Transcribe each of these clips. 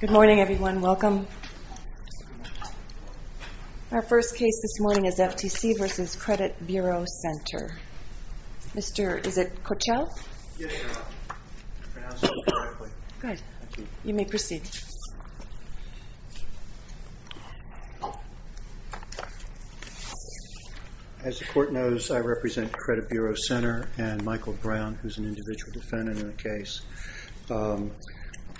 Good morning, everyone. Welcome. Our first case this morning is FTC v. Credit Bureau Center. Mr.... is it Coachell? Yes, Your Honor. I pronounced it correctly. Good. You may proceed. As the Court knows, I represent Credit Bureau Center and Michael Brown, who is an individual defendant in the case.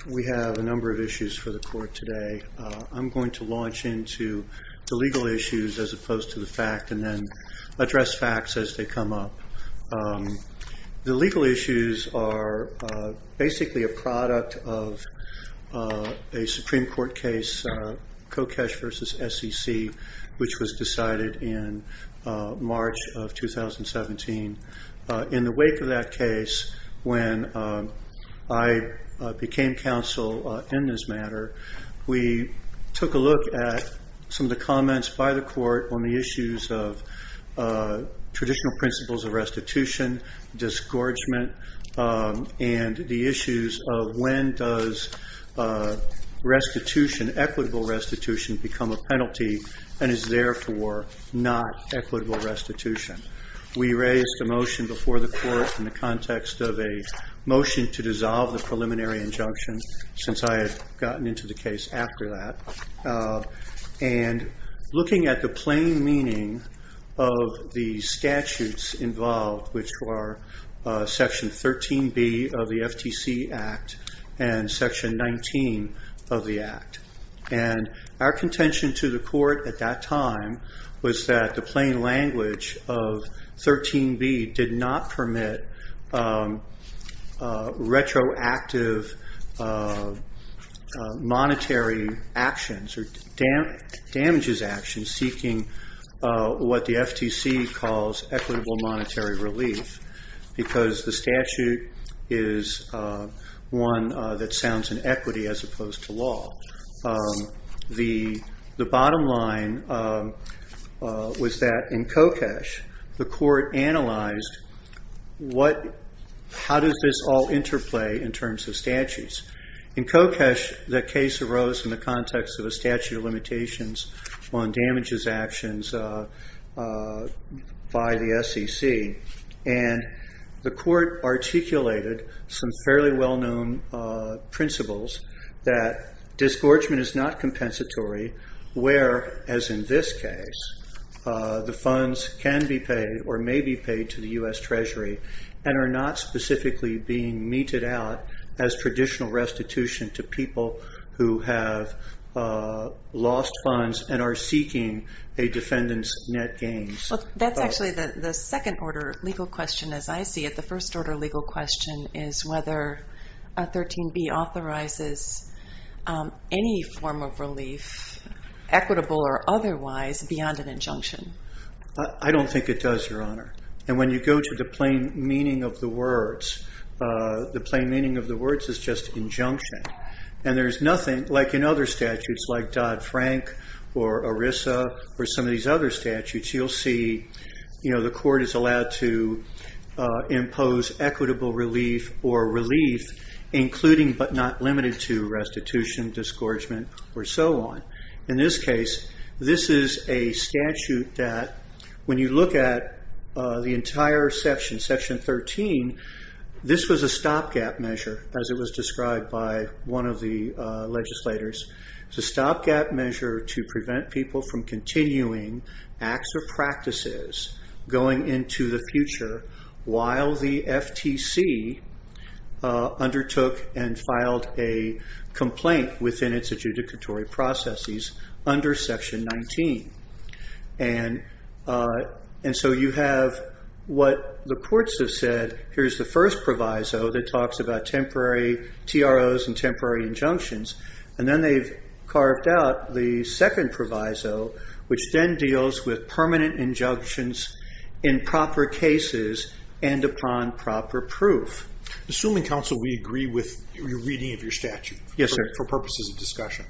We have a number of issues for the Court today. I'm going to launch into the legal issues as opposed to the fact and then address facts as they come up. The legal issues are basically a product of a Supreme Court case, Kochesh v. SEC, which was decided in March of 2017. In the wake of that case, when I became counsel in this matter, we took a look at some of the comments by the Court on the issues of traditional principles of restitution, disgorgement, and the issues of when does equitable restitution become a penalty and is therefore not equitable restitution. We raised a motion before the Court in the context of a motion to dissolve the preliminary injunction, since I had gotten into the case after that, and looking at the plain meaning of the statutes involved, which were Section 13B of the FTC Act and Section 19 of the Act. Our contention to the Court at that time was that the plain language of 13B did not permit retroactive monetary actions or damages actions seeking what the FTC calls equitable monetary relief, because the statute is one that sounds in equity as opposed to law. The bottom line was that in Kochesh, the Court analyzed how does this all interplay in terms of statutes. In Kochesh, the case arose in the context of a statute of limitations on damages actions by the SEC, and the Court articulated some fairly well-known principles that disgorgement is not compensatory, where, as in this case, the funds can be paid or may be paid to the U.S. Treasury and are not specifically being meted out as traditional restitution to people who have lost funds and are seeking a defendant's net gains. Well, that's actually the second-order legal question, as I see it. The first-order legal question is whether 13B authorizes any form of relief, equitable or otherwise, beyond an injunction. I don't think it does, Your Honor. And when you go to the plain meaning of the words, the plain meaning of the words is just injunction. And there's nothing, like in other statutes, like Dodd-Frank or ERISA or some of these other statutes, you'll see the Court is allowed to impose equitable relief or relief, including but not limited to restitution, disgorgement, or so on. In this case, this is a statute that, when you look at the entire section, Section 13, this was a stopgap measure, as it was described by one of the legislators. It's a stopgap measure to prevent people from continuing acts or practices going into the future while the FTC undertook and filed a complaint within its adjudicatory processes under Section 19. And so you have what the courts have said. Here's the first proviso that talks about temporary TROs and temporary injunctions. And then they've carved out the second proviso, which then deals with permanent injunctions in proper cases and upon proper proof. Assuming, counsel, we agree with your reading of your statute for purposes of discussion,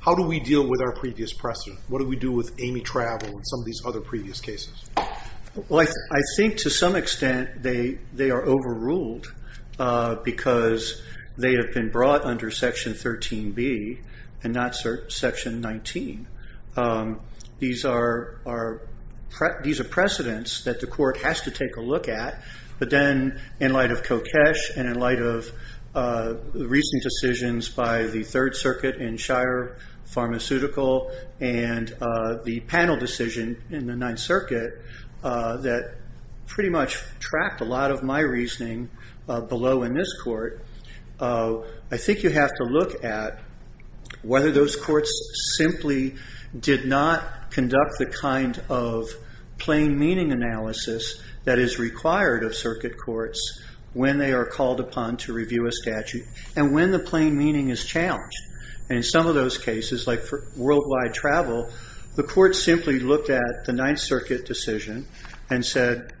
how do we deal with our previous precedent? What do we do with Amy Travel and some of these other previous cases? Well, I think to some extent they are overruled because they have been brought under Section 13B and not Section 19. These are precedents that the court has to take a look at. But then in light of Kokesh and in light of the recent decisions by the Third Circuit in Shire Pharmaceutical and the panel decision in the Ninth Circuit that pretty much trapped a lot of my reasoning below in this court, I think you have to look at whether those courts simply did not conduct the kind of plain meaning analysis that is required of circuit courts when they are called upon to review a statute and when the plain meaning is challenged. And in some of those cases, like for worldwide travel, the court simply looked at the Ninth Circuit decision and said,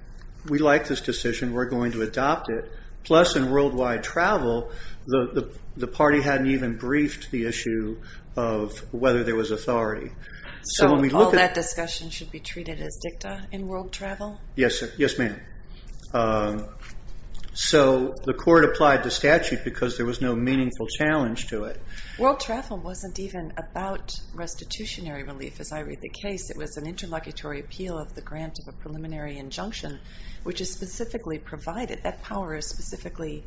we like this decision. We're going to adopt it. Plus, in worldwide travel, the party hadn't even briefed the issue of whether there was authority. So all that discussion should be treated as dicta in world travel? Yes, ma'am. So the court applied the statute because there was no meaningful challenge to it. World travel wasn't even about restitutionary relief, as I read the case. It was an interlocutory appeal of the grant of a preliminary injunction, which is specifically provided. That power is specifically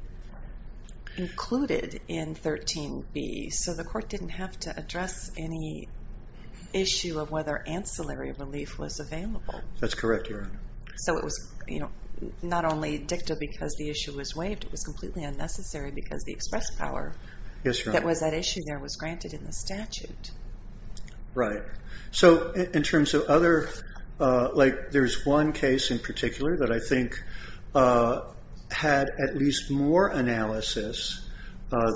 included in 13B. So the court didn't have to address any issue of whether ancillary relief was available. That's correct, Your Honor. So it was not only dicta because the issue was waived. It was completely unnecessary because the express power that was at issue there was granted in the statute. Right. So in terms of other, like there's one case in particular that I think had at least more analysis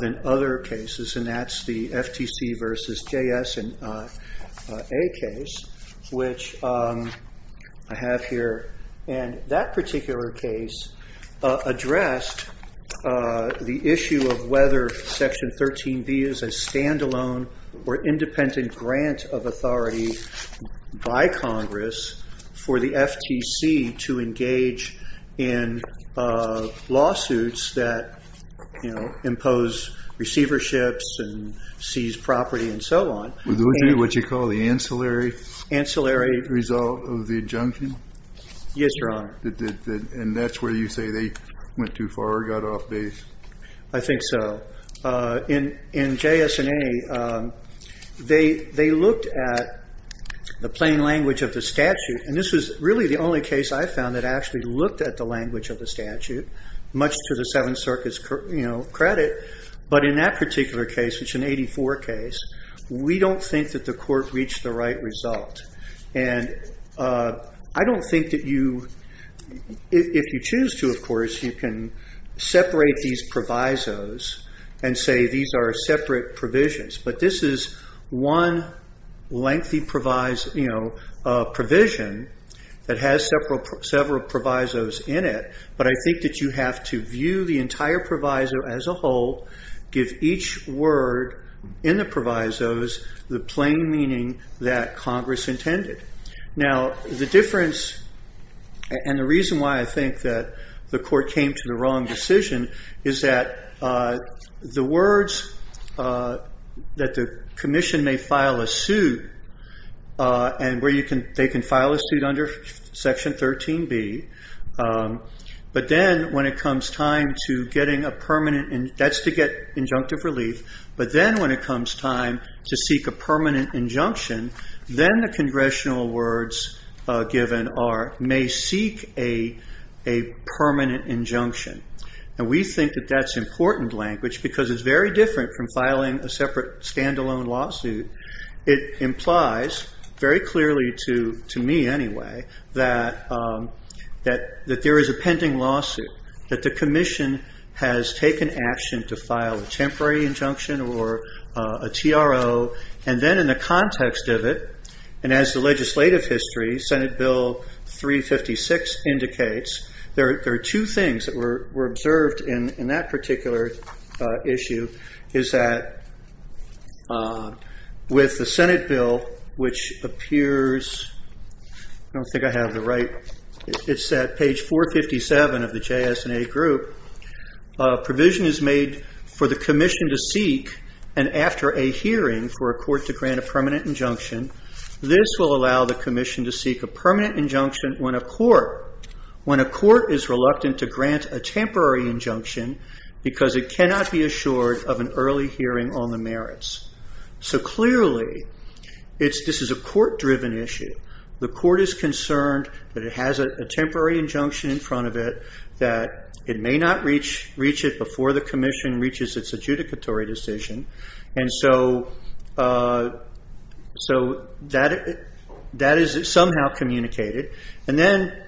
than other cases, and that's the FTC versus JS and A case, which I have here. And that particular case addressed the issue of whether Section 13B is a standalone or independent grant of authority by Congress for the FTC to engage in lawsuits that impose receiverships and seize property and so on. Was it what you call the ancillary? Ancillary. Result of the injunction? Yes, Your Honor. And that's where you say they went too far or got off base? I think so. In JS and A, they looked at the plain language of the statute. And this was really the only case I found that actually looked at the language of the statute, much to the Seventh Circuit's credit. But in that particular case, which is an 84 case, we don't think that the court reached the right result. And I don't think that you, if you choose to, of course, you can separate these provisos and say these are separate provisions. But this is one lengthy provision that has several provisos in it. But I think that you have to view the entire proviso as a whole, give each word in the provisos the plain meaning that Congress intended. Now, the difference and the reason why I think that the court came to the wrong decision is that the words that the commission may file a suit and where they can file a suit under Section 13B, but then when it comes time to getting a permanent, that's to get injunctive relief, but then when it comes time to seek a permanent injunction, then the congressional words given may seek a permanent injunction. And we think that that's important language because it's very different from filing a separate stand-alone lawsuit. It implies very clearly to me anyway that there is a pending lawsuit, that the commission has taken action to file a temporary injunction or a TRO. And then in the context of it, and as the legislative history, Senate Bill 356 indicates, there are two things that were observed in that particular issue, is that with the Senate Bill, which appears, I don't think I have the right, it's at page 457 of the JSNA group, provision is made for the commission to seek, and after a hearing for a court to grant a permanent injunction, this will allow the commission to seek a permanent injunction when a court, when a court is reluctant to grant a temporary injunction because it cannot be assured of an early hearing on the merits. So clearly this is a court-driven issue. The court is concerned that it has a temporary injunction in front of it, that it may not reach it before the commission reaches its adjudicatory decision. And so that is somehow communicated. And then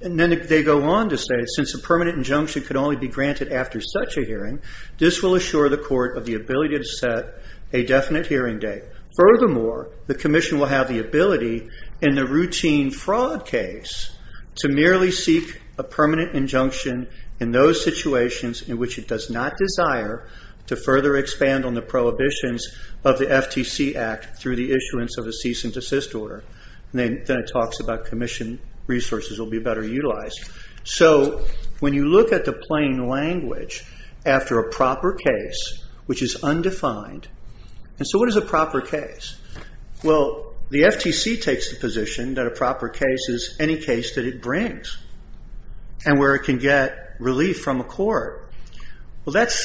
they go on to say, since a permanent injunction could only be granted after such a hearing, this will assure the court of the ability to set a definite hearing date. Furthermore, the commission will have the ability in the routine fraud case to merely seek a permanent injunction in those situations in which it does not desire to further expand on the prohibitions of the FTC Act through the issuance of a cease and desist order. Then it talks about commission resources will be better utilized. So when you look at the plain language after a proper case, which is undefined, and so what is a proper case? Well, the FTC takes the position that a proper case is any case that it brings and where it can get relief from a court. Well, that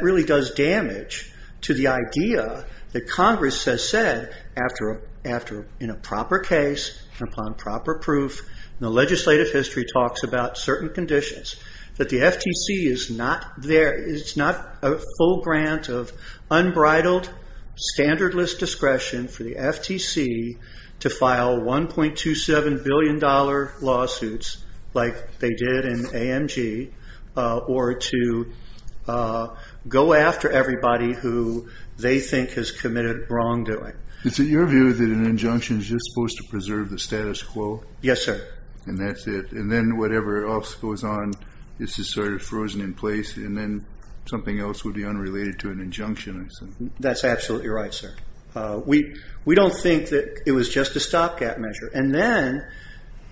really does damage to the idea that Congress has said, in a proper case and upon proper proof, and the legislative history talks about certain conditions, that the FTC is not a full grant of unbridled, standardless discretion for the FTC to file $1.27 billion lawsuits, like they did in AMG, or to go after everybody who they think has committed wrongdoing. Is it your view that an injunction is just supposed to preserve the status quo? Yes, sir. And that's it. And then whatever else goes on is just sort of frozen in place and then something else would be unrelated to an injunction, I assume. That's absolutely right, sir. We don't think that it was just a stopgap measure. And then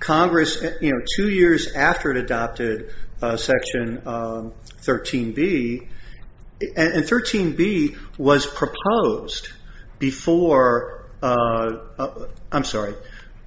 Congress, two years after it adopted Section 13B, and 13B was proposed before, I'm sorry,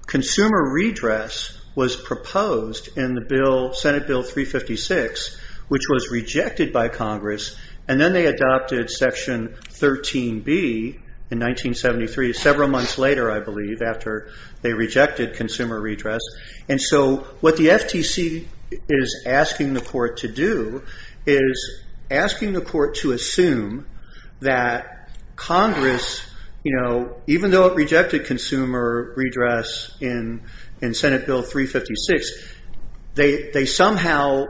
consumer redress was proposed in the Senate Bill 356, which was rejected by Congress, and then they adopted Section 13B in 1973, several months later, I believe, after they rejected consumer redress. And so what the FTC is asking the court to do is asking the court to assume that Congress, even though it rejected consumer redress in Senate Bill 356, they somehow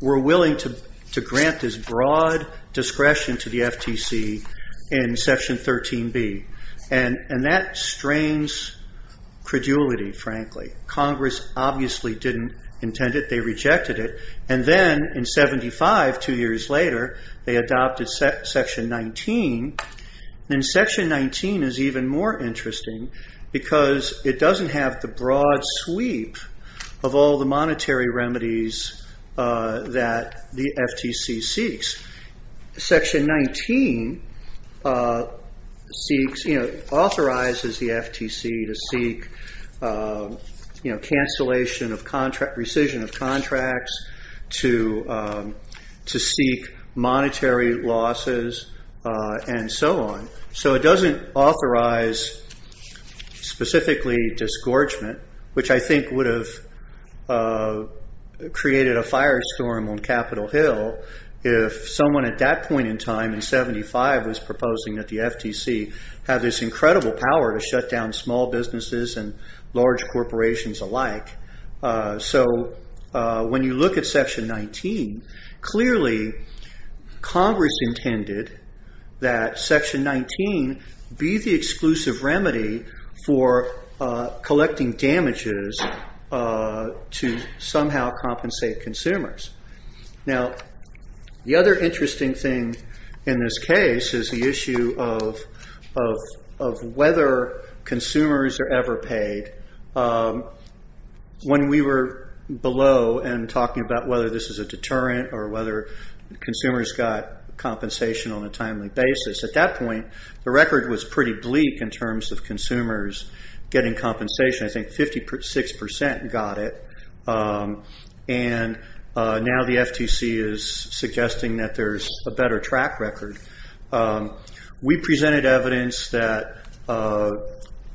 were willing to grant this broad discretion to the FTC in Section 13B. And that strains credulity, frankly. Congress obviously didn't intend it. They rejected it. And then in 75, two years later, they adopted Section 19. And Section 19 is even more interesting because it doesn't have the broad sweep of all the monetary remedies that the FTC seeks. Section 19 authorizes the FTC to seek cancellation of contract, rescission of contracts, to seek monetary losses, and so on. So it doesn't authorize specifically disgorgement, which I think would have created a firestorm on Capitol Hill if someone at that point in time in 75 was proposing that the FTC had this incredible power to shut down small businesses and large corporations alike. So when you look at Section 19, clearly Congress intended that Section 19 be the exclusive remedy for collecting damages to somehow compensate consumers. Now, the other interesting thing in this case is the issue of whether consumers are ever paid. When we were below and talking about whether this is a deterrent or whether consumers got compensation on a timely basis, at that point the record was pretty bleak in terms of consumers getting compensation. I think 56% got it. And now the FTC is suggesting that there's a better track record. We presented evidence that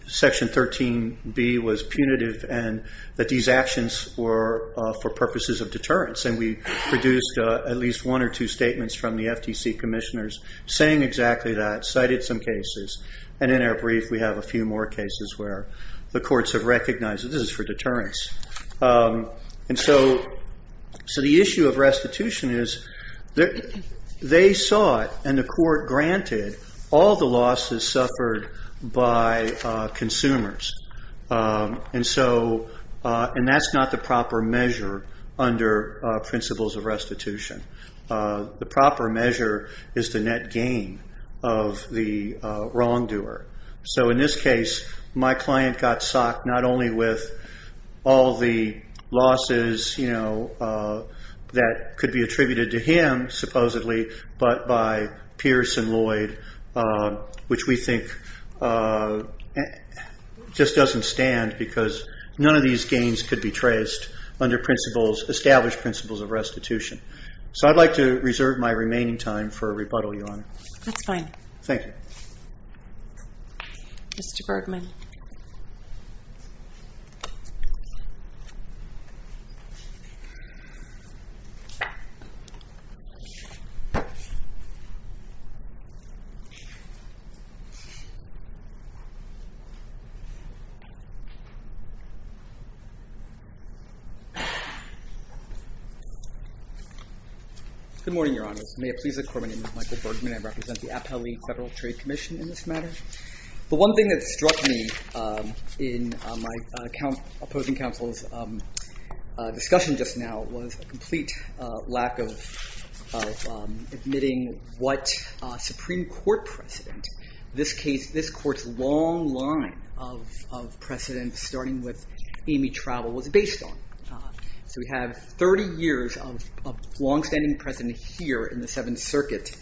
Section 13b was punitive and that these actions were for purposes of deterrence, and we produced at least one or two statements from the FTC commissioners saying exactly that, cited some cases. And in our brief we have a few more cases where the courts have recognized that this is for deterrence. And so the issue of restitution is they saw it and the court granted all the losses suffered by consumers, and that's not the proper measure under principles of restitution. The proper measure is the net gain of the wrongdoer. So in this case, my client got socked not only with all the losses that could be attributed to him, supposedly, but by Pierce and Lloyd, which we think just doesn't stand because none of these gains could be traced under established principles of restitution. So I'd like to reserve my remaining time for a rebuttal, Your Honor. That's fine. Thank you. Mr. Bergman. Good morning, Your Honor. May it please the Court, my name is Michael Bergman. I represent the Appellee Federal Trade Commission in this matter. The one thing that struck me in my opposing counsel's discussion just now was a complete lack of admitting what Supreme Court precedent, this court's long line of precedent, starting with Amy Travel, was based on. So we have 30 years of longstanding precedent here in the Seventh Circuit,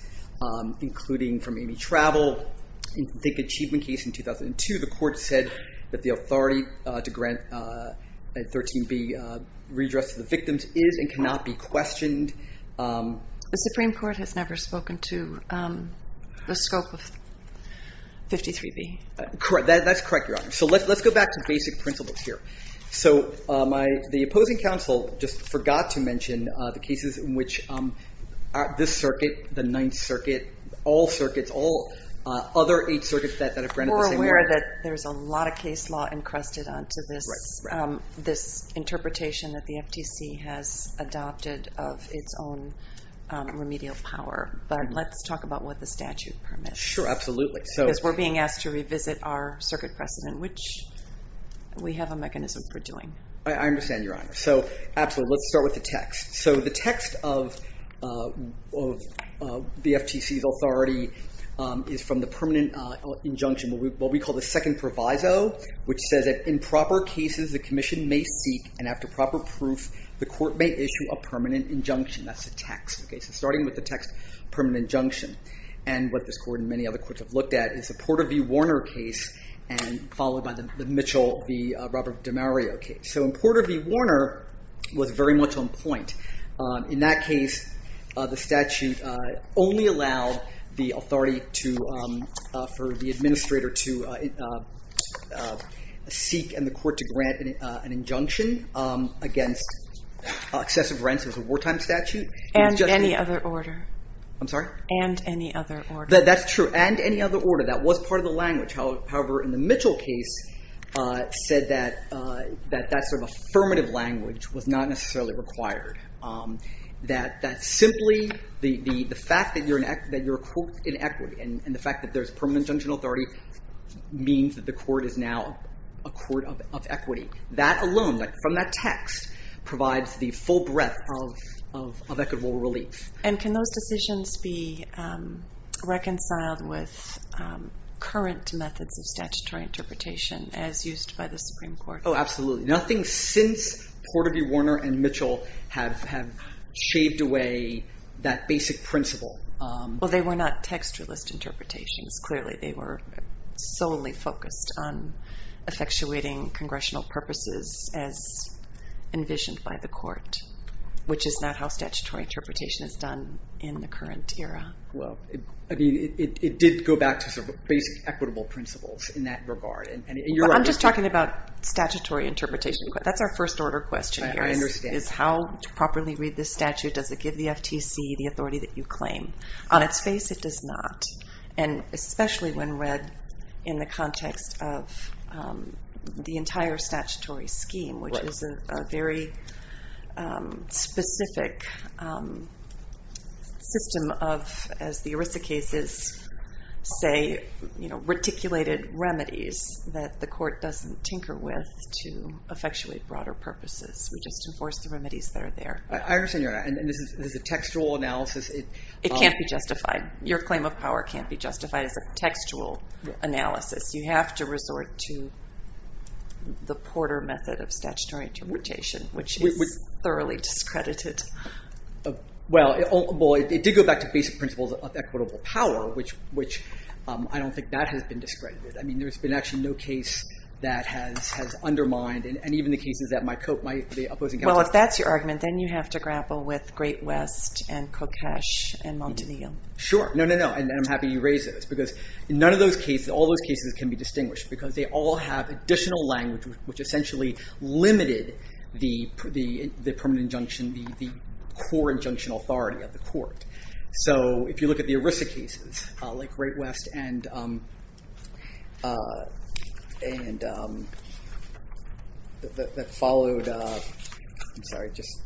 including from Amy Travel. In the achievement case in 2002, the court said that the authority to grant a 13B redress to the victims is and cannot be questioned. The Supreme Court has never spoken to the scope of 53B. That's correct, Your Honor. So let's go back to basic principles here. The opposing counsel just forgot to mention the cases in which this circuit, the Ninth Circuit, all circuits, all other eight circuits that have granted the same redress. We're aware that there's a lot of case law encrusted onto this interpretation that the FTC has adopted of its own remedial power. But let's talk about what the statute permits. Sure, absolutely. Because we're being asked to revisit our circuit precedent, which we have a mechanism for doing. I understand, Your Honor. So absolutely, let's start with the text. So the text of the FTC's authority is from the permanent injunction, what we call the second proviso, which says that in proper cases, the commission may seek, and after proper proof, the court may issue a permanent injunction. That's the text. So starting with the text, permanent injunction, and what this court and many other courts have looked at is the Porter v. Warner case, followed by the Mitchell v. Robert DiMario case. So in Porter v. Warner, it was very much on point. In that case, the statute only allowed the authority for the administrator to seek and the court to grant an injunction against excessive rents. It was a wartime statute. And any other order. I'm sorry? And any other order. That's true. And any other order. That was part of the language. However, in the Mitchell case, it said that that sort of affirmative language was not necessarily required. That simply the fact that you're in equity, and the fact that there's permanent injunction authority, means that the court is now a court of equity. That alone, from that text, provides the full breadth of equitable relief. And can those decisions be reconciled with current methods of statutory interpretation as used by the Supreme Court? Oh, absolutely. Nothing since Porter v. Warner and Mitchell have shaved away that basic principle. Well, they were not textualist interpretations. Clearly, they were solely focused on effectuating congressional purposes as envisioned by the court, which is not how statutory interpretation is done in the current era. Well, I mean, it did go back to sort of basic equitable principles in that regard. And you're right. I'm just talking about statutory interpretation. That's our first order question here. I understand. Is how to properly read this statute? Does it give the FTC the authority that you claim? On its face, it does not. And especially when read in the context of the entire statutory scheme, which is a very specific system of, as the ERISA cases say, reticulated remedies that the court doesn't tinker with to effectuate broader purposes. We just enforce the remedies that are there. I understand. And this is a textual analysis. It can't be justified. Your claim of power can't be justified as a textual analysis. You have to resort to the Porter method of statutory interpretation, which is thoroughly discredited. Well, it did go back to basic principles of equitable power, which I don't think that has been discredited. I mean, there's been actually no case that has undermined and even the cases that my opposing counsel. Well, if that's your argument, then you have to grapple with Great West and Kokesh and Montague. Sure. No, no, no. And I'm happy you raised those. Because none of those cases, all those cases can be distinguished, because they all have additional language, which essentially limited the permanent injunction, the core injunctional authority of the court. So if you look at the ERISA cases like Great West and that followed. I'm sorry, just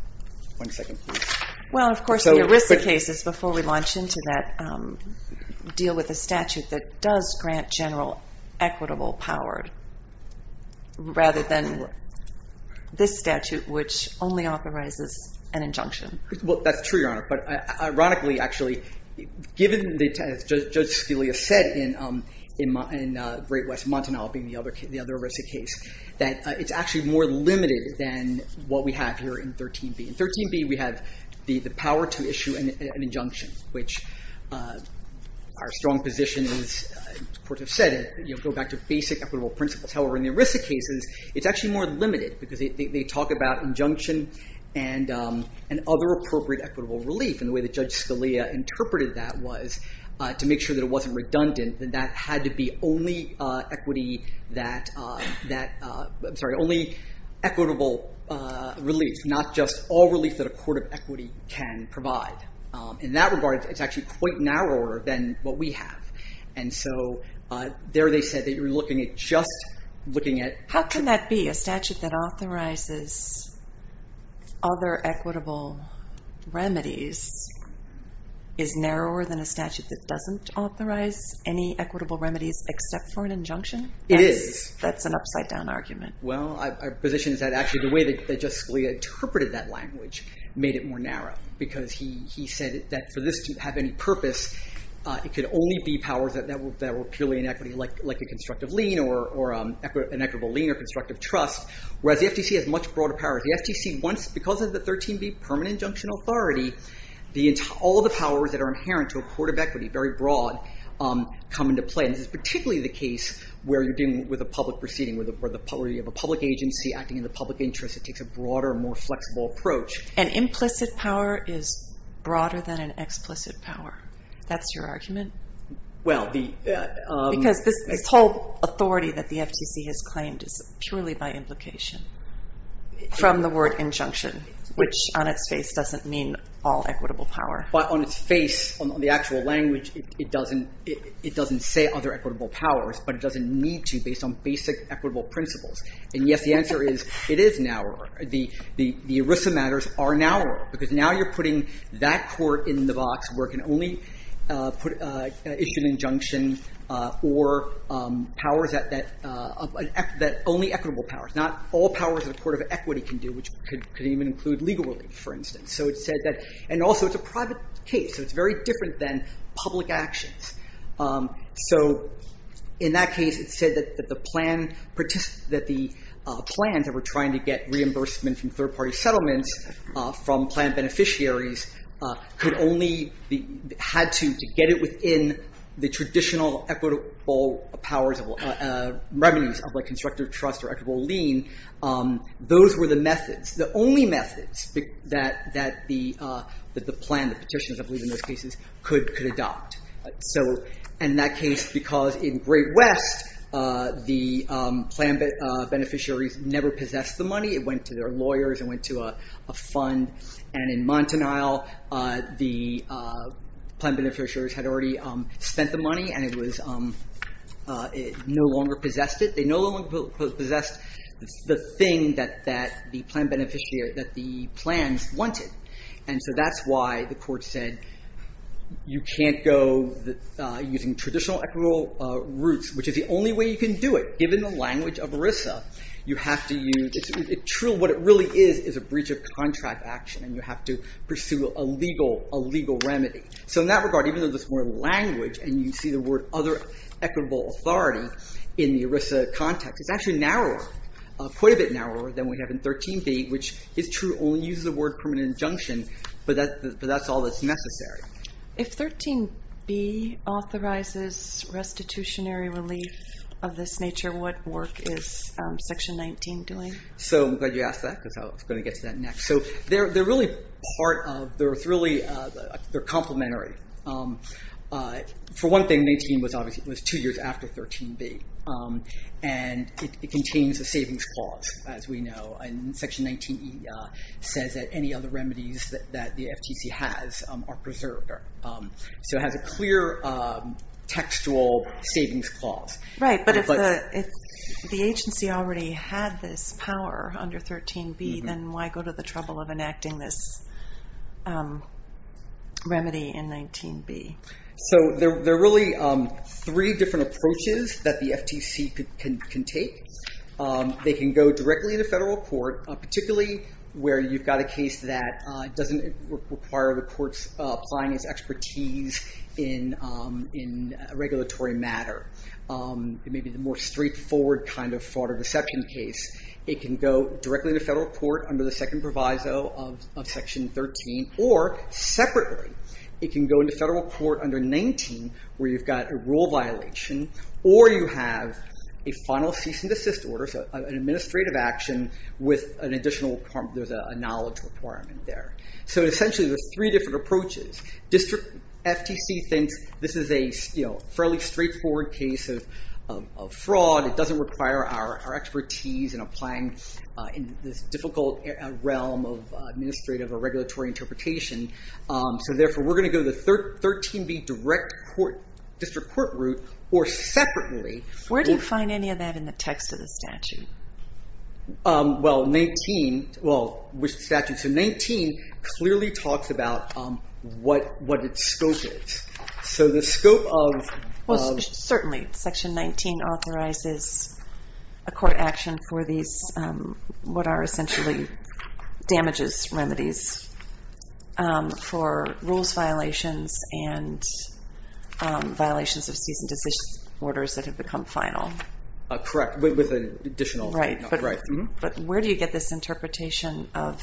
one second, please. Well, of course, the ERISA cases, before we launch into that, deal with a statute that does grant general equitable power, rather than this statute, which only authorizes an injunction. Well, that's true, Your Honor. But ironically, actually, given, as Judge Scalia said, in Great West and Montague being the other ERISA case, that it's actually more limited than what we have here in 13B. In 13B, we have the power to issue an injunction, which our strong position is, as courts have said, go back to basic equitable principles. However, in the ERISA cases, it's actually more limited, because they talk about injunction and other appropriate equitable relief. And the way that Judge Scalia interpreted that was to make sure that it wasn't redundant, that that had to be only equitable relief, that it's not just all relief that a court of equity can provide. In that regard, it's actually quite narrower than what we have. And so there they said that you're looking at just looking at How can that be? A statute that authorizes other equitable remedies is narrower than a statute that doesn't authorize any equitable remedies, except for an injunction? It is. That's an upside down argument. Well, our position is that actually the way that Judge Scalia interpreted that language made it more narrow, because he said that for this to have any purpose, it could only be powers that were purely inequity, like a constructive lien or an equitable lien or constructive trust, whereas the FTC has much broader powers. The FTC, because of the 13B permanent injunction authority, all the powers that are inherent to a court of equity, very broad, come into play. And this is particularly the case where you're dealing with a public proceeding where you have a public agency acting in the public interest. It takes a broader, more flexible approach. An implicit power is broader than an explicit power. That's your argument? Because this whole authority that the FTC has claimed is purely by implication, from the word injunction, which on its face doesn't mean all equitable power. But on its face, on the actual language, it doesn't say other equitable powers, but it doesn't need to, based on basic equitable principles. And yes, the answer is, it is narrower. The ERISA matters are narrower, because now you're putting that court in the box where it can only issue an injunction or powers that only equitable powers, not all powers that a court of equity can do, which could even include legal relief, for instance. And also, it's a private case, so it's very different than public actions. So in that case, it said that the plans that were trying to get reimbursement from third-party settlements, from plan beneficiaries, had to get it within the traditional equitable powers, remedies of constructive trust or equitable lien. Those were the methods, the only methods, that the plan, the petitions, I believe in those cases, could adopt. And that case, because in Great West, the plan beneficiaries never possessed the money. It went to their lawyers. It went to a fund. And in Montanile, the plan beneficiaries had already spent the money, and it no longer possessed it. They no longer possessed the thing that the plans wanted. And so that's why the court said, you can't go using traditional equitable routes, which is the only way you can do it, given the language of ERISA. What it really is is a breach of contract action, and you have to pursue a legal remedy. So in that regard, even though there's more language, and you see the word other equitable authority in the ERISA context, it's actually narrower, quite a bit narrower than we have in 13b, which is true, only uses the word permanent injunction, but that's all that's necessary. If 13b authorizes restitutionary relief of this nature, what work is section 19 doing? So I'm glad you asked that, because I was going to get to that next. So they're really part of, they're complimentary. For one thing, 19 was two years after 13b, and it contains a savings clause, as we know. And section 19E says that any other remedies that the FTC has are preserved. So it has a clear textual savings clause. Right, but if the agency already had this power under 13b, then why go to the trouble of enacting this remedy in 19b? So there are really three different approaches that the FTC can take. They can go directly to federal court, particularly where you've got a case that doesn't require the court's finance expertise in regulatory matter. It may be the more straightforward kind of fraud or deception case. It can go directly to federal court under the second proviso of section 13, or separately, it can go into federal court under 19, where you've got a rule violation, or you have a final cease and desist order, so an administrative action with an additional, there's a knowledge requirement there. So essentially, there's three different approaches. District FTC thinks this is a fairly straightforward case of fraud. It doesn't require our expertise in applying in this difficult realm of administrative or regulatory interpretation. So therefore, we're going to go the 13b direct district court route, or separately. Where do you find any of that in the text of the statute? Well, 19, well, which statute? So 19 clearly talks about what its scope is. So the scope of. Certainly, section 19 authorizes a court action for these, what are essentially damages remedies for rules violations and violations of cease and desist orders that have become final. Correct. With an additional. Right. But where do you get this interpretation of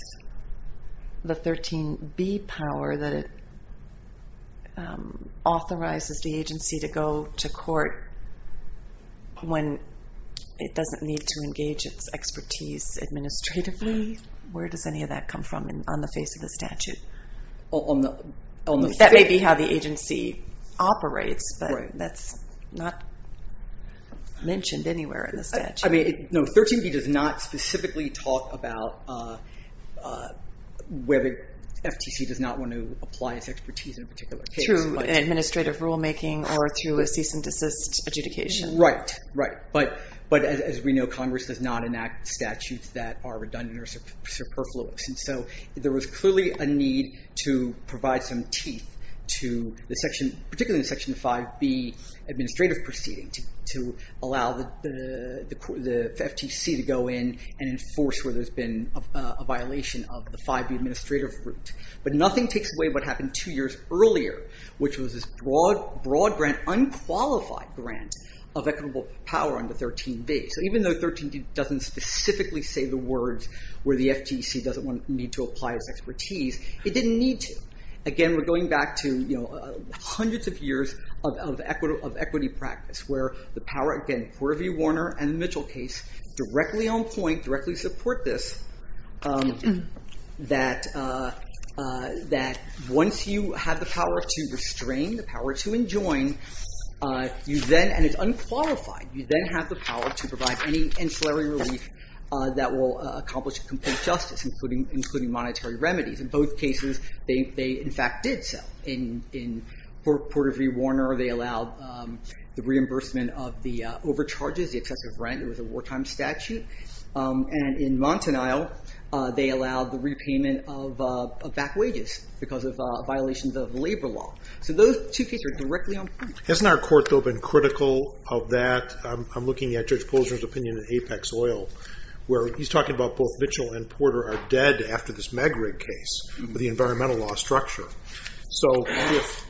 the 13b power that it authorizes the agency to go to court when it doesn't need to engage its expertise administratively? Where does any of that come from on the face of the statute? That may be how the agency operates, but that's not mentioned anywhere in the statute. I mean, no. 13b does not specifically talk about whether FTC does not want to apply its expertise in a particular case. Through an administrative rulemaking or through a cease and desist adjudication. Right. Right. But as we know, Congress does not And so there was clearly a need to provide some teeth to the section, particularly the section 5b administrative proceeding to allow the FTC to go in and enforce where there's been a violation of the 5b administrative route. But nothing takes away what happened two years earlier, which was this broad grant, unqualified grant, of equitable power under 13b. So even though 13b doesn't specifically say the words where the FTC doesn't need to apply its expertise, it didn't need to. Again, we're going back to hundreds of years of equity practice, where the power, again, Porter v. Warner and the Mitchell case, directly on point, directly support this, that once you have the power to restrain, the power to enjoin, you then, and it's unqualified, you then have the power to provide any ancillary relief that will accomplish complete justice, including monetary remedies. In both cases, they, in fact, did so. In Porter v. Warner, they allowed the reimbursement of the overcharges, the excessive rent. It was a wartime statute. And in Montanile, they allowed the repayment of back wages because of violations of labor law. So those two cases are directly on point. Hasn't our court, though, been critical of that? I'm looking at Judge Polzner's opinion in Apex Oil, where he's talking about both Mitchell and Porter are dead after this Megrig case, the environmental law structure. So if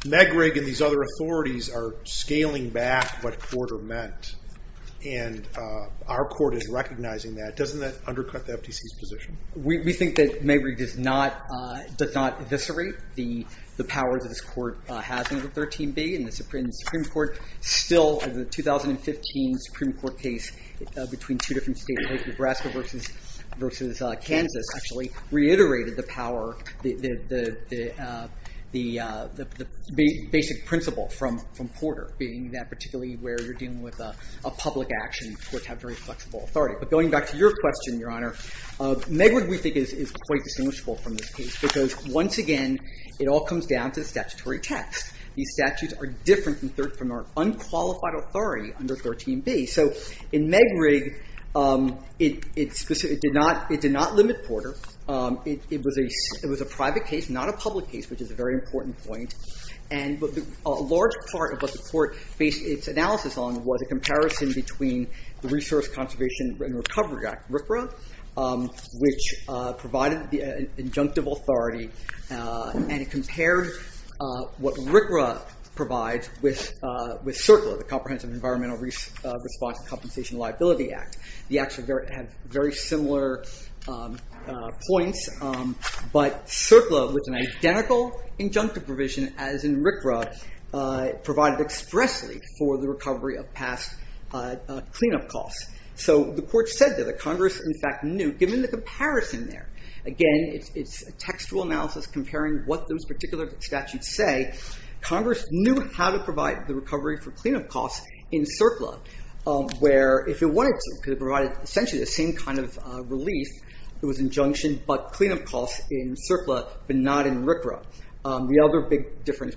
Megrig and these other authorities are scaling back what Porter meant, and our court is recognizing that, doesn't that undercut the FTC's position? We think that Megrig does not eviscerate the powers that this court has under 13b. And the Supreme Court still, in the 2015 Supreme Court case between two different states, Nebraska versus Kansas, actually reiterated the power, the basic principle from Porter, being that particularly where you're dealing with a public action, courts have very flexible authority. But going back to your question, Your Honor, Megrig, we think, is quite distinguishable from this case because, once again, it all comes down to the statutory text. These statutes are different from our unqualified authority under 13b. So in Megrig, it did not limit Porter. It was a private case, not a public case, which is a very important point. But a large part of what the court based its analysis on was a comparison between the Resource Conservation and Recovery Act, RCRA, which provided the injunctive authority. And it compared what RCRA provides with CERCLA, the Comprehensive Environmental Response and Compensation Liability Act. The acts have very similar points. But CERCLA, with an identical injunctive provision as in RCRA, provided expressly for the recovery of past cleanup costs. So the court said that the Congress, in fact, knew, given the comparison there. Again, it's a textual analysis comparing what those particular statutes say. Congress knew how to provide the recovery for cleanup costs in CERCLA, where if it wanted to, because it provided essentially the same kind of relief that was injunctioned, but cleanup costs in CERCLA, but not in RCRA. The other big difference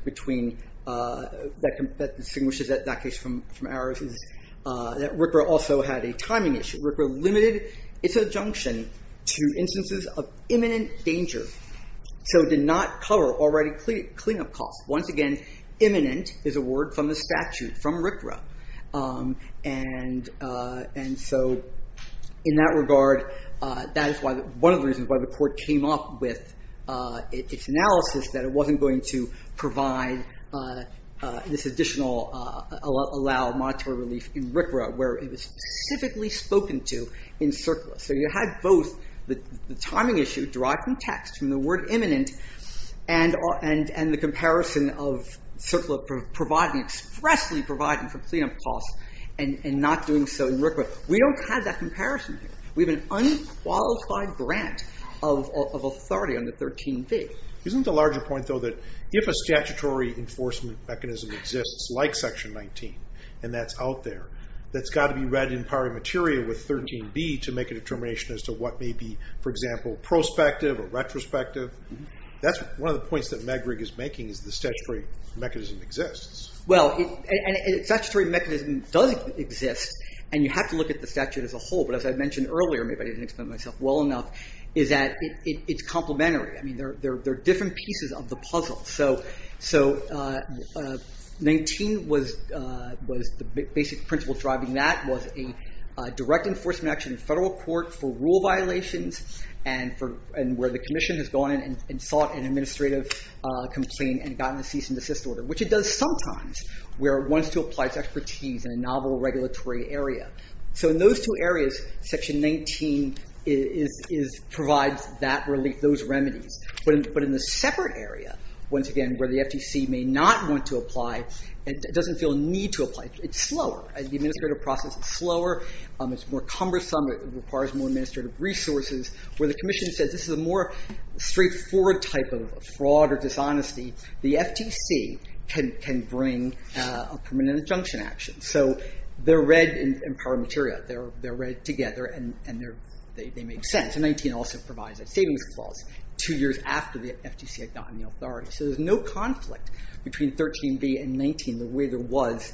that distinguishes that case from ours is that RCRA also had a timing issue. RCRA limited its injunction to instances of imminent danger. So it did not cover already cleanup costs. Once again, imminent is a word from the statute, from RCRA. And so in that regard, that is one of the reasons why the court came up with its analysis, that it wasn't going to provide this additional, allow monetary relief in RCRA, where it was specifically spoken to in CERCLA. So you had both the timing issue derived from text, from the word imminent, and the comparison of CERCLA providing, expressly providing for cleanup costs, and not doing so in RCRA. We don't have that comparison here. We have an unqualified grant of authority on the 13b. Isn't the larger point, though, that if a statutory enforcement mechanism exists, like Section 19, and that's out there, that's got to be read in pari materia with 13b to make a determination as to what may be, for example, prospective or retrospective? That's one of the points that Megrig is making, is the statutory mechanism exists. Well, a statutory mechanism does exist, and you have to look at the statute as a whole. But as I mentioned earlier, maybe I didn't explain myself well enough, is that it's complementary. I mean, there are different pieces of the puzzle. So 19 was the basic principle driving that, was a direct enforcement action in federal court for rule violations, and where the commission has gone in and sought an administrative complaint and gotten a cease and desist order, which it does sometimes, where it wants to apply its expertise in a novel regulatory area. So in those two areas, Section 19 provides that relief, those remedies. But in the separate area, once again, where the FTC may not want to apply, it doesn't feel a need to apply. It's slower. The administrative process is slower. It's more cumbersome. It requires more administrative resources. Where the commission says this is a more straightforward type of fraud or dishonesty, the FTC can bring a permanent injunction action. So they're read in pari materia. They're read together, and they make sense. Section 19 also provides a savings clause two years after the FTC had gotten the authority. So there's no conflict between 13b and 19, the way there was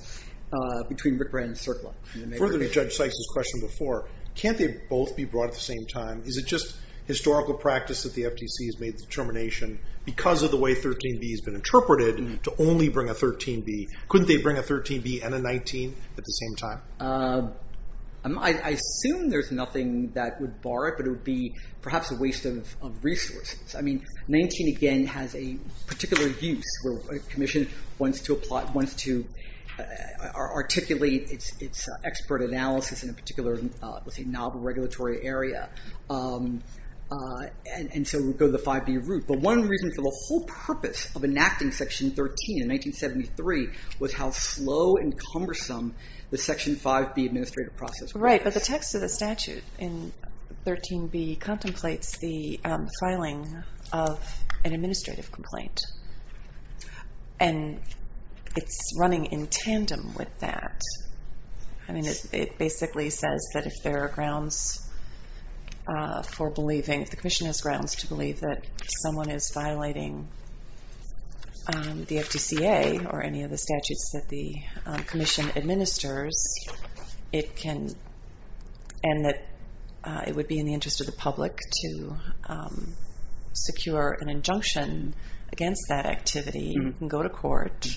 between Rickrand and CERCLA. Further to Judge Sykes' question before, can't they both be brought at the same time? Is it just historical practice that the FTC has made the determination, because of the way 13b has been interpreted, to only bring a 13b? Couldn't they bring a 13b and a 19 at the same time? I assume there's nothing that would bar it, but it would be perhaps a waste of resources. 19, again, has a particular use. A commission wants to articulate its expert analysis in a particular, let's say, novel regulatory area. And so we go to the 5b route. But one reason for the whole purpose of enacting Section 13 in 1973 was how slow and cumbersome the Section 5b administrative process was. Right, but the text of the statute in 13b contemplates the filing of an administrative complaint. And it's running in tandem with that. It basically says that if there are grounds for believing, if the commission has grounds to believe that someone is violating the FTCA or any of the statutes that the commission administers, and that it would be in the interest of the public to secure an injunction against that activity, you can go to court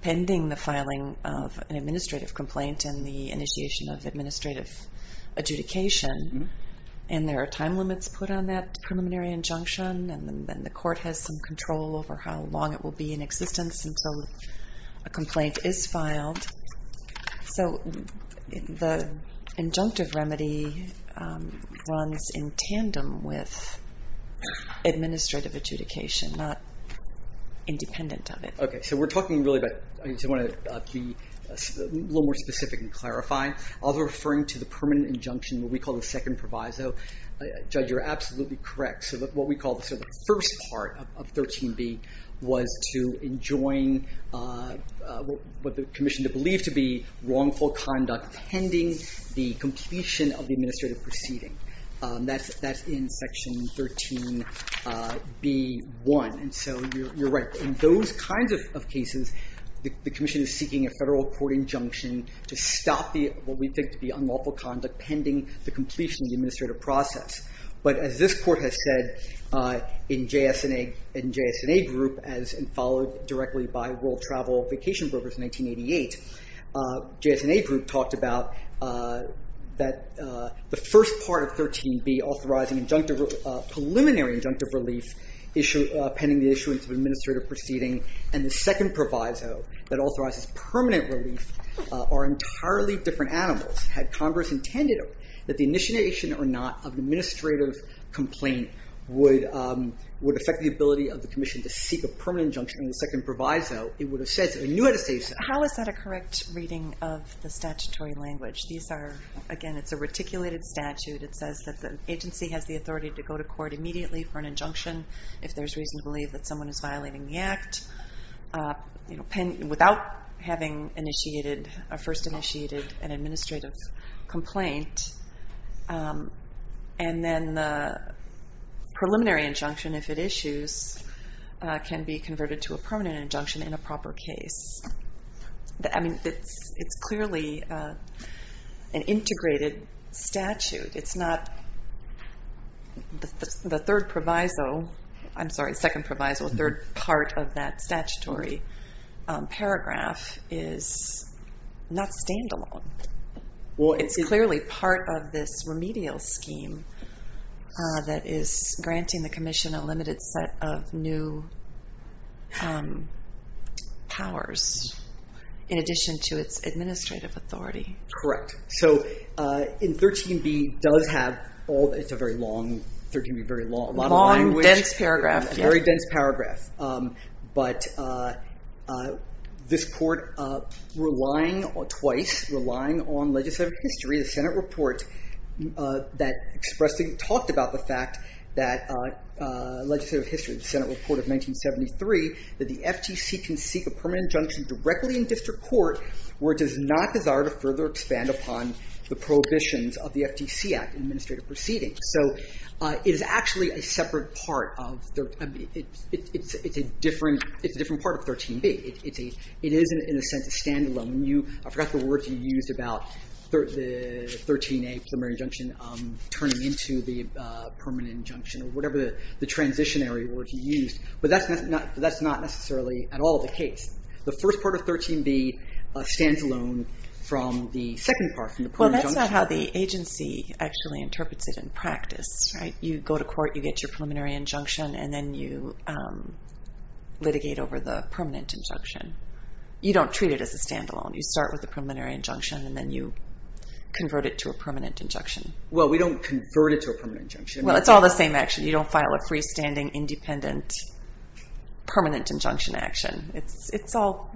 pending the filing of an administrative complaint and the initiation of administrative adjudication. And there are time limits put on that preliminary injunction. over how long it will be in existence until a complaint is filed. So the injunctive remedy runs in tandem with administrative adjudication, not independent of it. OK, so we're talking really about, I just want to be a little more specific and clarify. I was referring to the permanent injunction, what we call the second proviso. Judge, you're absolutely correct. So what we call the first part of 13b was to enjoin what the commission believed to be wrongful conduct pending the completion of the administrative proceeding. That's in section 13b1. And so you're right. In those kinds of cases, the commission is seeking a federal court injunction to stop what we think to be unlawful conduct pending the completion of the administrative process. But as this court has said in JS&A group, as followed directly by World Travel Vacation Brokers in 1988, JS&A group talked about that the first part of 13b, preliminary injunctive relief pending the issuance of administrative proceeding, and the second proviso that authorizes permanent relief, are entirely different animals. Had Congress intended that the initiation or not of administrative complaint would affect the ability of the commission to seek a permanent injunction in the second proviso, it would have said so. It knew it had to say so. How is that a correct reading of the statutory language? These are, again, it's a reticulated statute. It says that the agency has the authority to go to court immediately for an injunction if there's reason to believe that someone is violating the act, without having initiated, or first initiated an administrative complaint. And then the preliminary injunction, if it issues, can be converted to a permanent injunction in a proper case. I mean, it's clearly an integrated statute. It's not the third proviso, I'm sorry, second proviso, third part of that statutory paragraph is not standalone. Well, it's clearly part of this remedial scheme that is granting the commission a limited set of new powers, in addition to its administrative authority. Correct. So in 13b does have all, it's a very long, 13b very long, a lot of language. Long, dense paragraph. Very dense paragraph. But this court, twice relying on legislative history, the Senate report that expressed, talked about the fact that legislative history, the Senate report of 1973, that the FTC can seek a permanent injunction directly in district court, where it does not desire to further expand upon the prohibitions of the FTC Act in administrative proceedings. So it is actually a separate part of, it's a different part of 13b. It is, in a sense, a standalone. I forgot the words you used about the 13a, preliminary injunction, turning into the permanent injunction, or whatever the transitionary words you used. But that's not necessarily at all the case. The first part of 13b stands alone from the second part, from the permanent injunction. But that's not how the agency actually interprets it in practice. Right. You go to court, you get your preliminary injunction, and then you litigate over the permanent injunction. You don't treat it as a standalone. You start with a preliminary injunction, and then you convert it to a permanent injunction. Well, we don't convert it to a permanent injunction. Well, it's all the same action. You don't file a freestanding, independent, permanent injunction action. It's all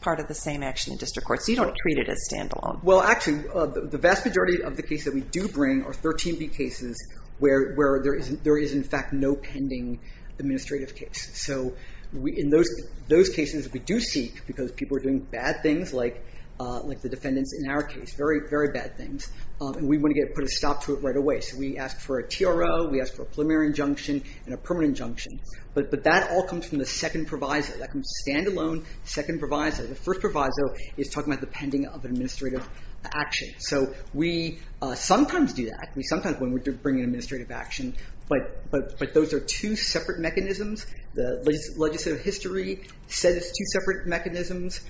part of the same action in district court. So you don't treat it as standalone. Well, actually, the vast majority of the cases that we do bring are 13b cases where there is, in fact, no pending administrative case. So in those cases, we do seek, because people are doing bad things, like the defendants in our case, very, very bad things. And we want to put a stop to it right away. So we ask for a TRO, we ask for a preliminary injunction, and a permanent injunction. But that all comes from the second proviso. That comes standalone, second proviso. The first proviso is talking about the pending of administrative action. So we sometimes do that. We sometimes bring in administrative action. But those are two separate mechanisms. The legislative history says it's two separate mechanisms.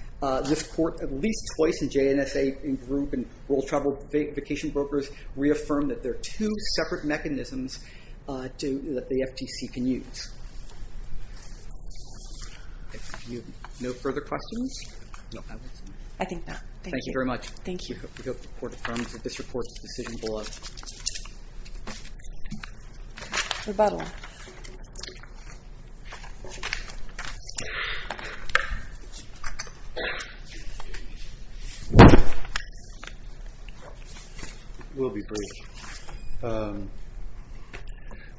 This court, at least twice in JNSA group and World Travel Vacation Brokers, reaffirmed that there are two separate mechanisms that the FTC can use. No further questions? I think that. Thank you very much. Thank you. We hope the court affirms that this report is decisionable. Rebuttal. We'll be brief. A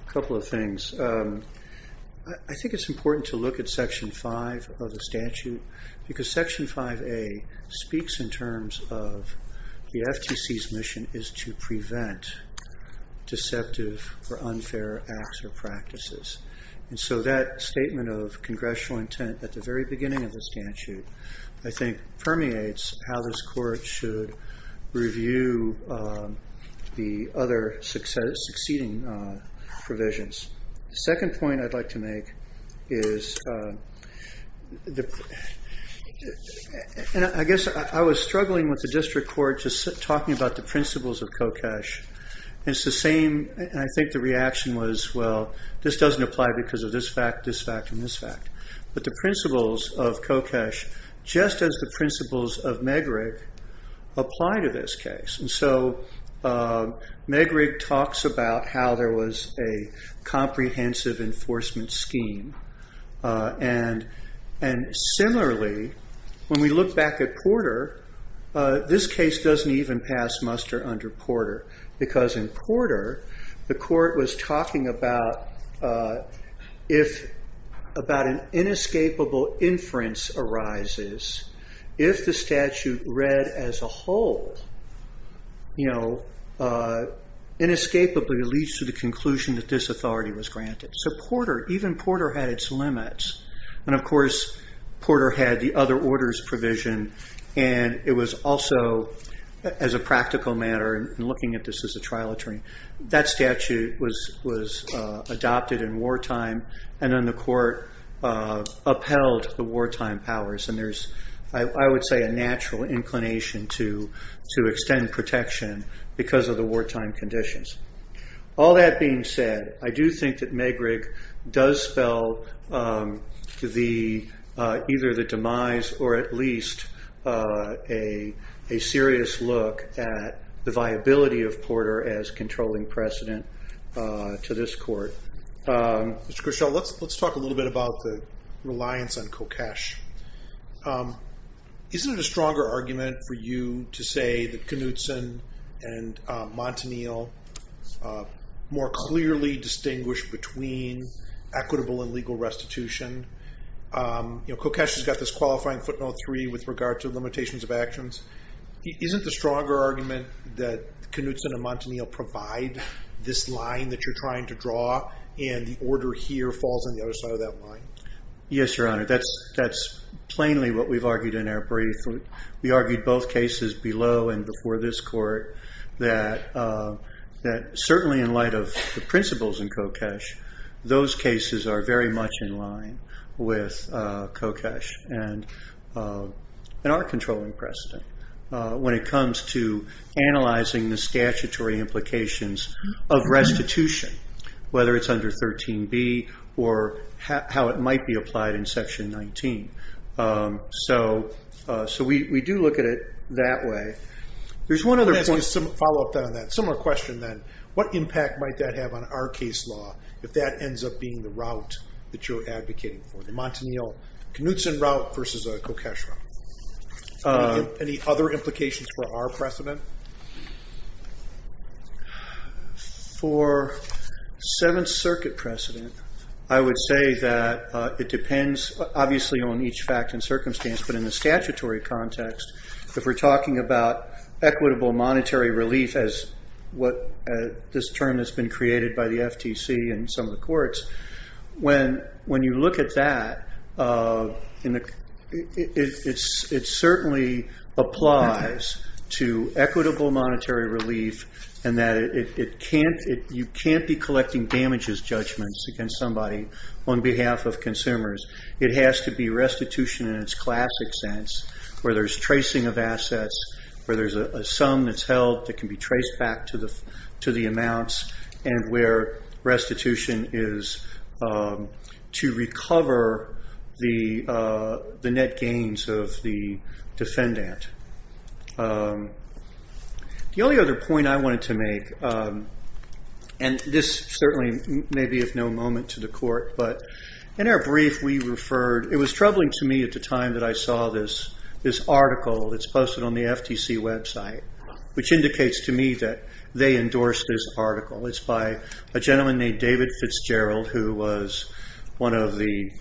couple of things. I think it's important to look at Section 5 of the statute, because Section 5A speaks in terms of the FTC's mission is to prevent deceptive or unfair acts or practices. And so that statement of congressional intent at the very beginning of the statute, I think, permeates how this court should review the other succeeding provisions. The second point I'd like to make is I guess I was struggling with the district court just talking about the principles of Kokesh. It's the same. And I think the reaction was, well, this doesn't apply because of this fact, this fact, and this fact. But the principles of Kokesh, just as the principles of Megrig, apply to this case. And so Megrig talks about how there was a comprehensive enforcement scheme. And similarly, when we look back at Porter, this case doesn't even pass muster under Porter. Because in Porter, the court was talking about if about an inescapable inference arises, if the statute read as a whole, inescapably leads to the conclusion that this authority was granted. So even Porter had its limits. And of course, Porter had the other orders provision. And it was also, as a practical matter, in looking at this as a trial attorney, that statute was adopted in wartime. And then the court upheld the wartime powers. And there's, I would say, a natural inclination to extend protection because of the wartime conditions. All that being said, I do think that Megrig does spell either the demise or at least a serious look at the viability of Porter as controlling precedent to this court. Mr. Grishel, let's talk a little bit about the reliance on Kokesh. Isn't it a stronger argument for you to say that Knutson and Montanil more clearly distinguish between equitable and legal restitution? Kokesh has got this qualifying footnote three with regard to limitations of actions. Isn't the stronger argument that Knutson and Montanil provide this line that you're trying to draw, and the order here falls on the other side of that line? Yes, Your Honor. That's plainly what we've argued in our brief. We argued both cases below and before this court that certainly in light of the principles in Kokesh, those cases are very much in line with Kokesh and our controlling precedent when it comes to analyzing the statutory implications of restitution, whether it's under 13b or how it might be applied in section 19. So we do look at it that way. There's one other point. Follow up on that. Similar question then. What impact might that have on our case law if that ends up being the route that you're advocating for, the Montanil-Knutson route versus a Kokesh route? Any other implications for our precedent? For Seventh Circuit precedent, I would say that it depends, obviously, on each fact and circumstance. But in the statutory context, if we're talking about equitable monetary relief as this term that's been created by the FTC and some of the courts, when you look at that, it certainly applies to equitable monetary relief in that you can't be collecting damages judgments against somebody on behalf of consumers. It has to be restitution in its classic sense, where there's tracing of assets, where there's a sum that's held that can be traced back to the amounts, and where restitution is to recover the net gains of the defendant. The only other point I wanted to make, and this certainly may be of no moment to the court, but in our brief, we referred, it was troubling to me at the time that I saw this article that's posted on the FTC website, which indicates to me that they endorsed this article. It's by a gentleman named David Fitzgerald, who was one of the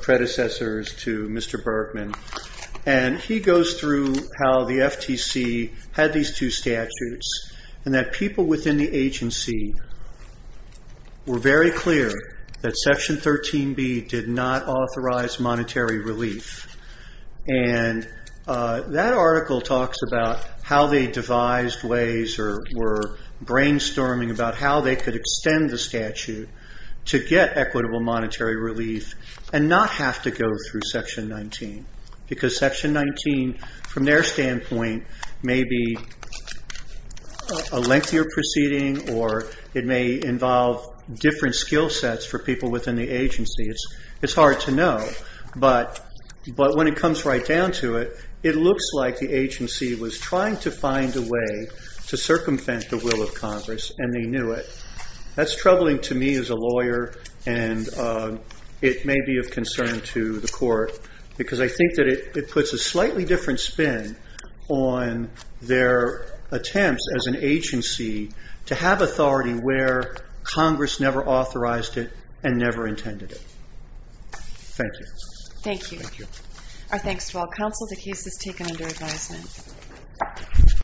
predecessors to Mr. Bergman. He goes through how the FTC had these two statutes and that people within the agency were very clear that Section 13B did not authorize monetary relief. That article talks about how they devised ways or were brainstorming about how they could extend the statute to get equitable monetary relief and not have to go through Section 19, because Section 19, from their standpoint, may be a lengthier proceeding, or it may involve different skill sets for people within the agency. It's hard to know. But when it comes right down to it, it looks like the agency was trying to find a way to circumvent the will of Congress, and they knew it. That's troubling to me as a lawyer, and it may be of concern to the court, because I think that it puts a slightly different spin on their attempts as an agency to have authority where Congress never authorized it and never intended it. Thank you. Thank you. Our thanks to all counsel. The case is taken under advisement.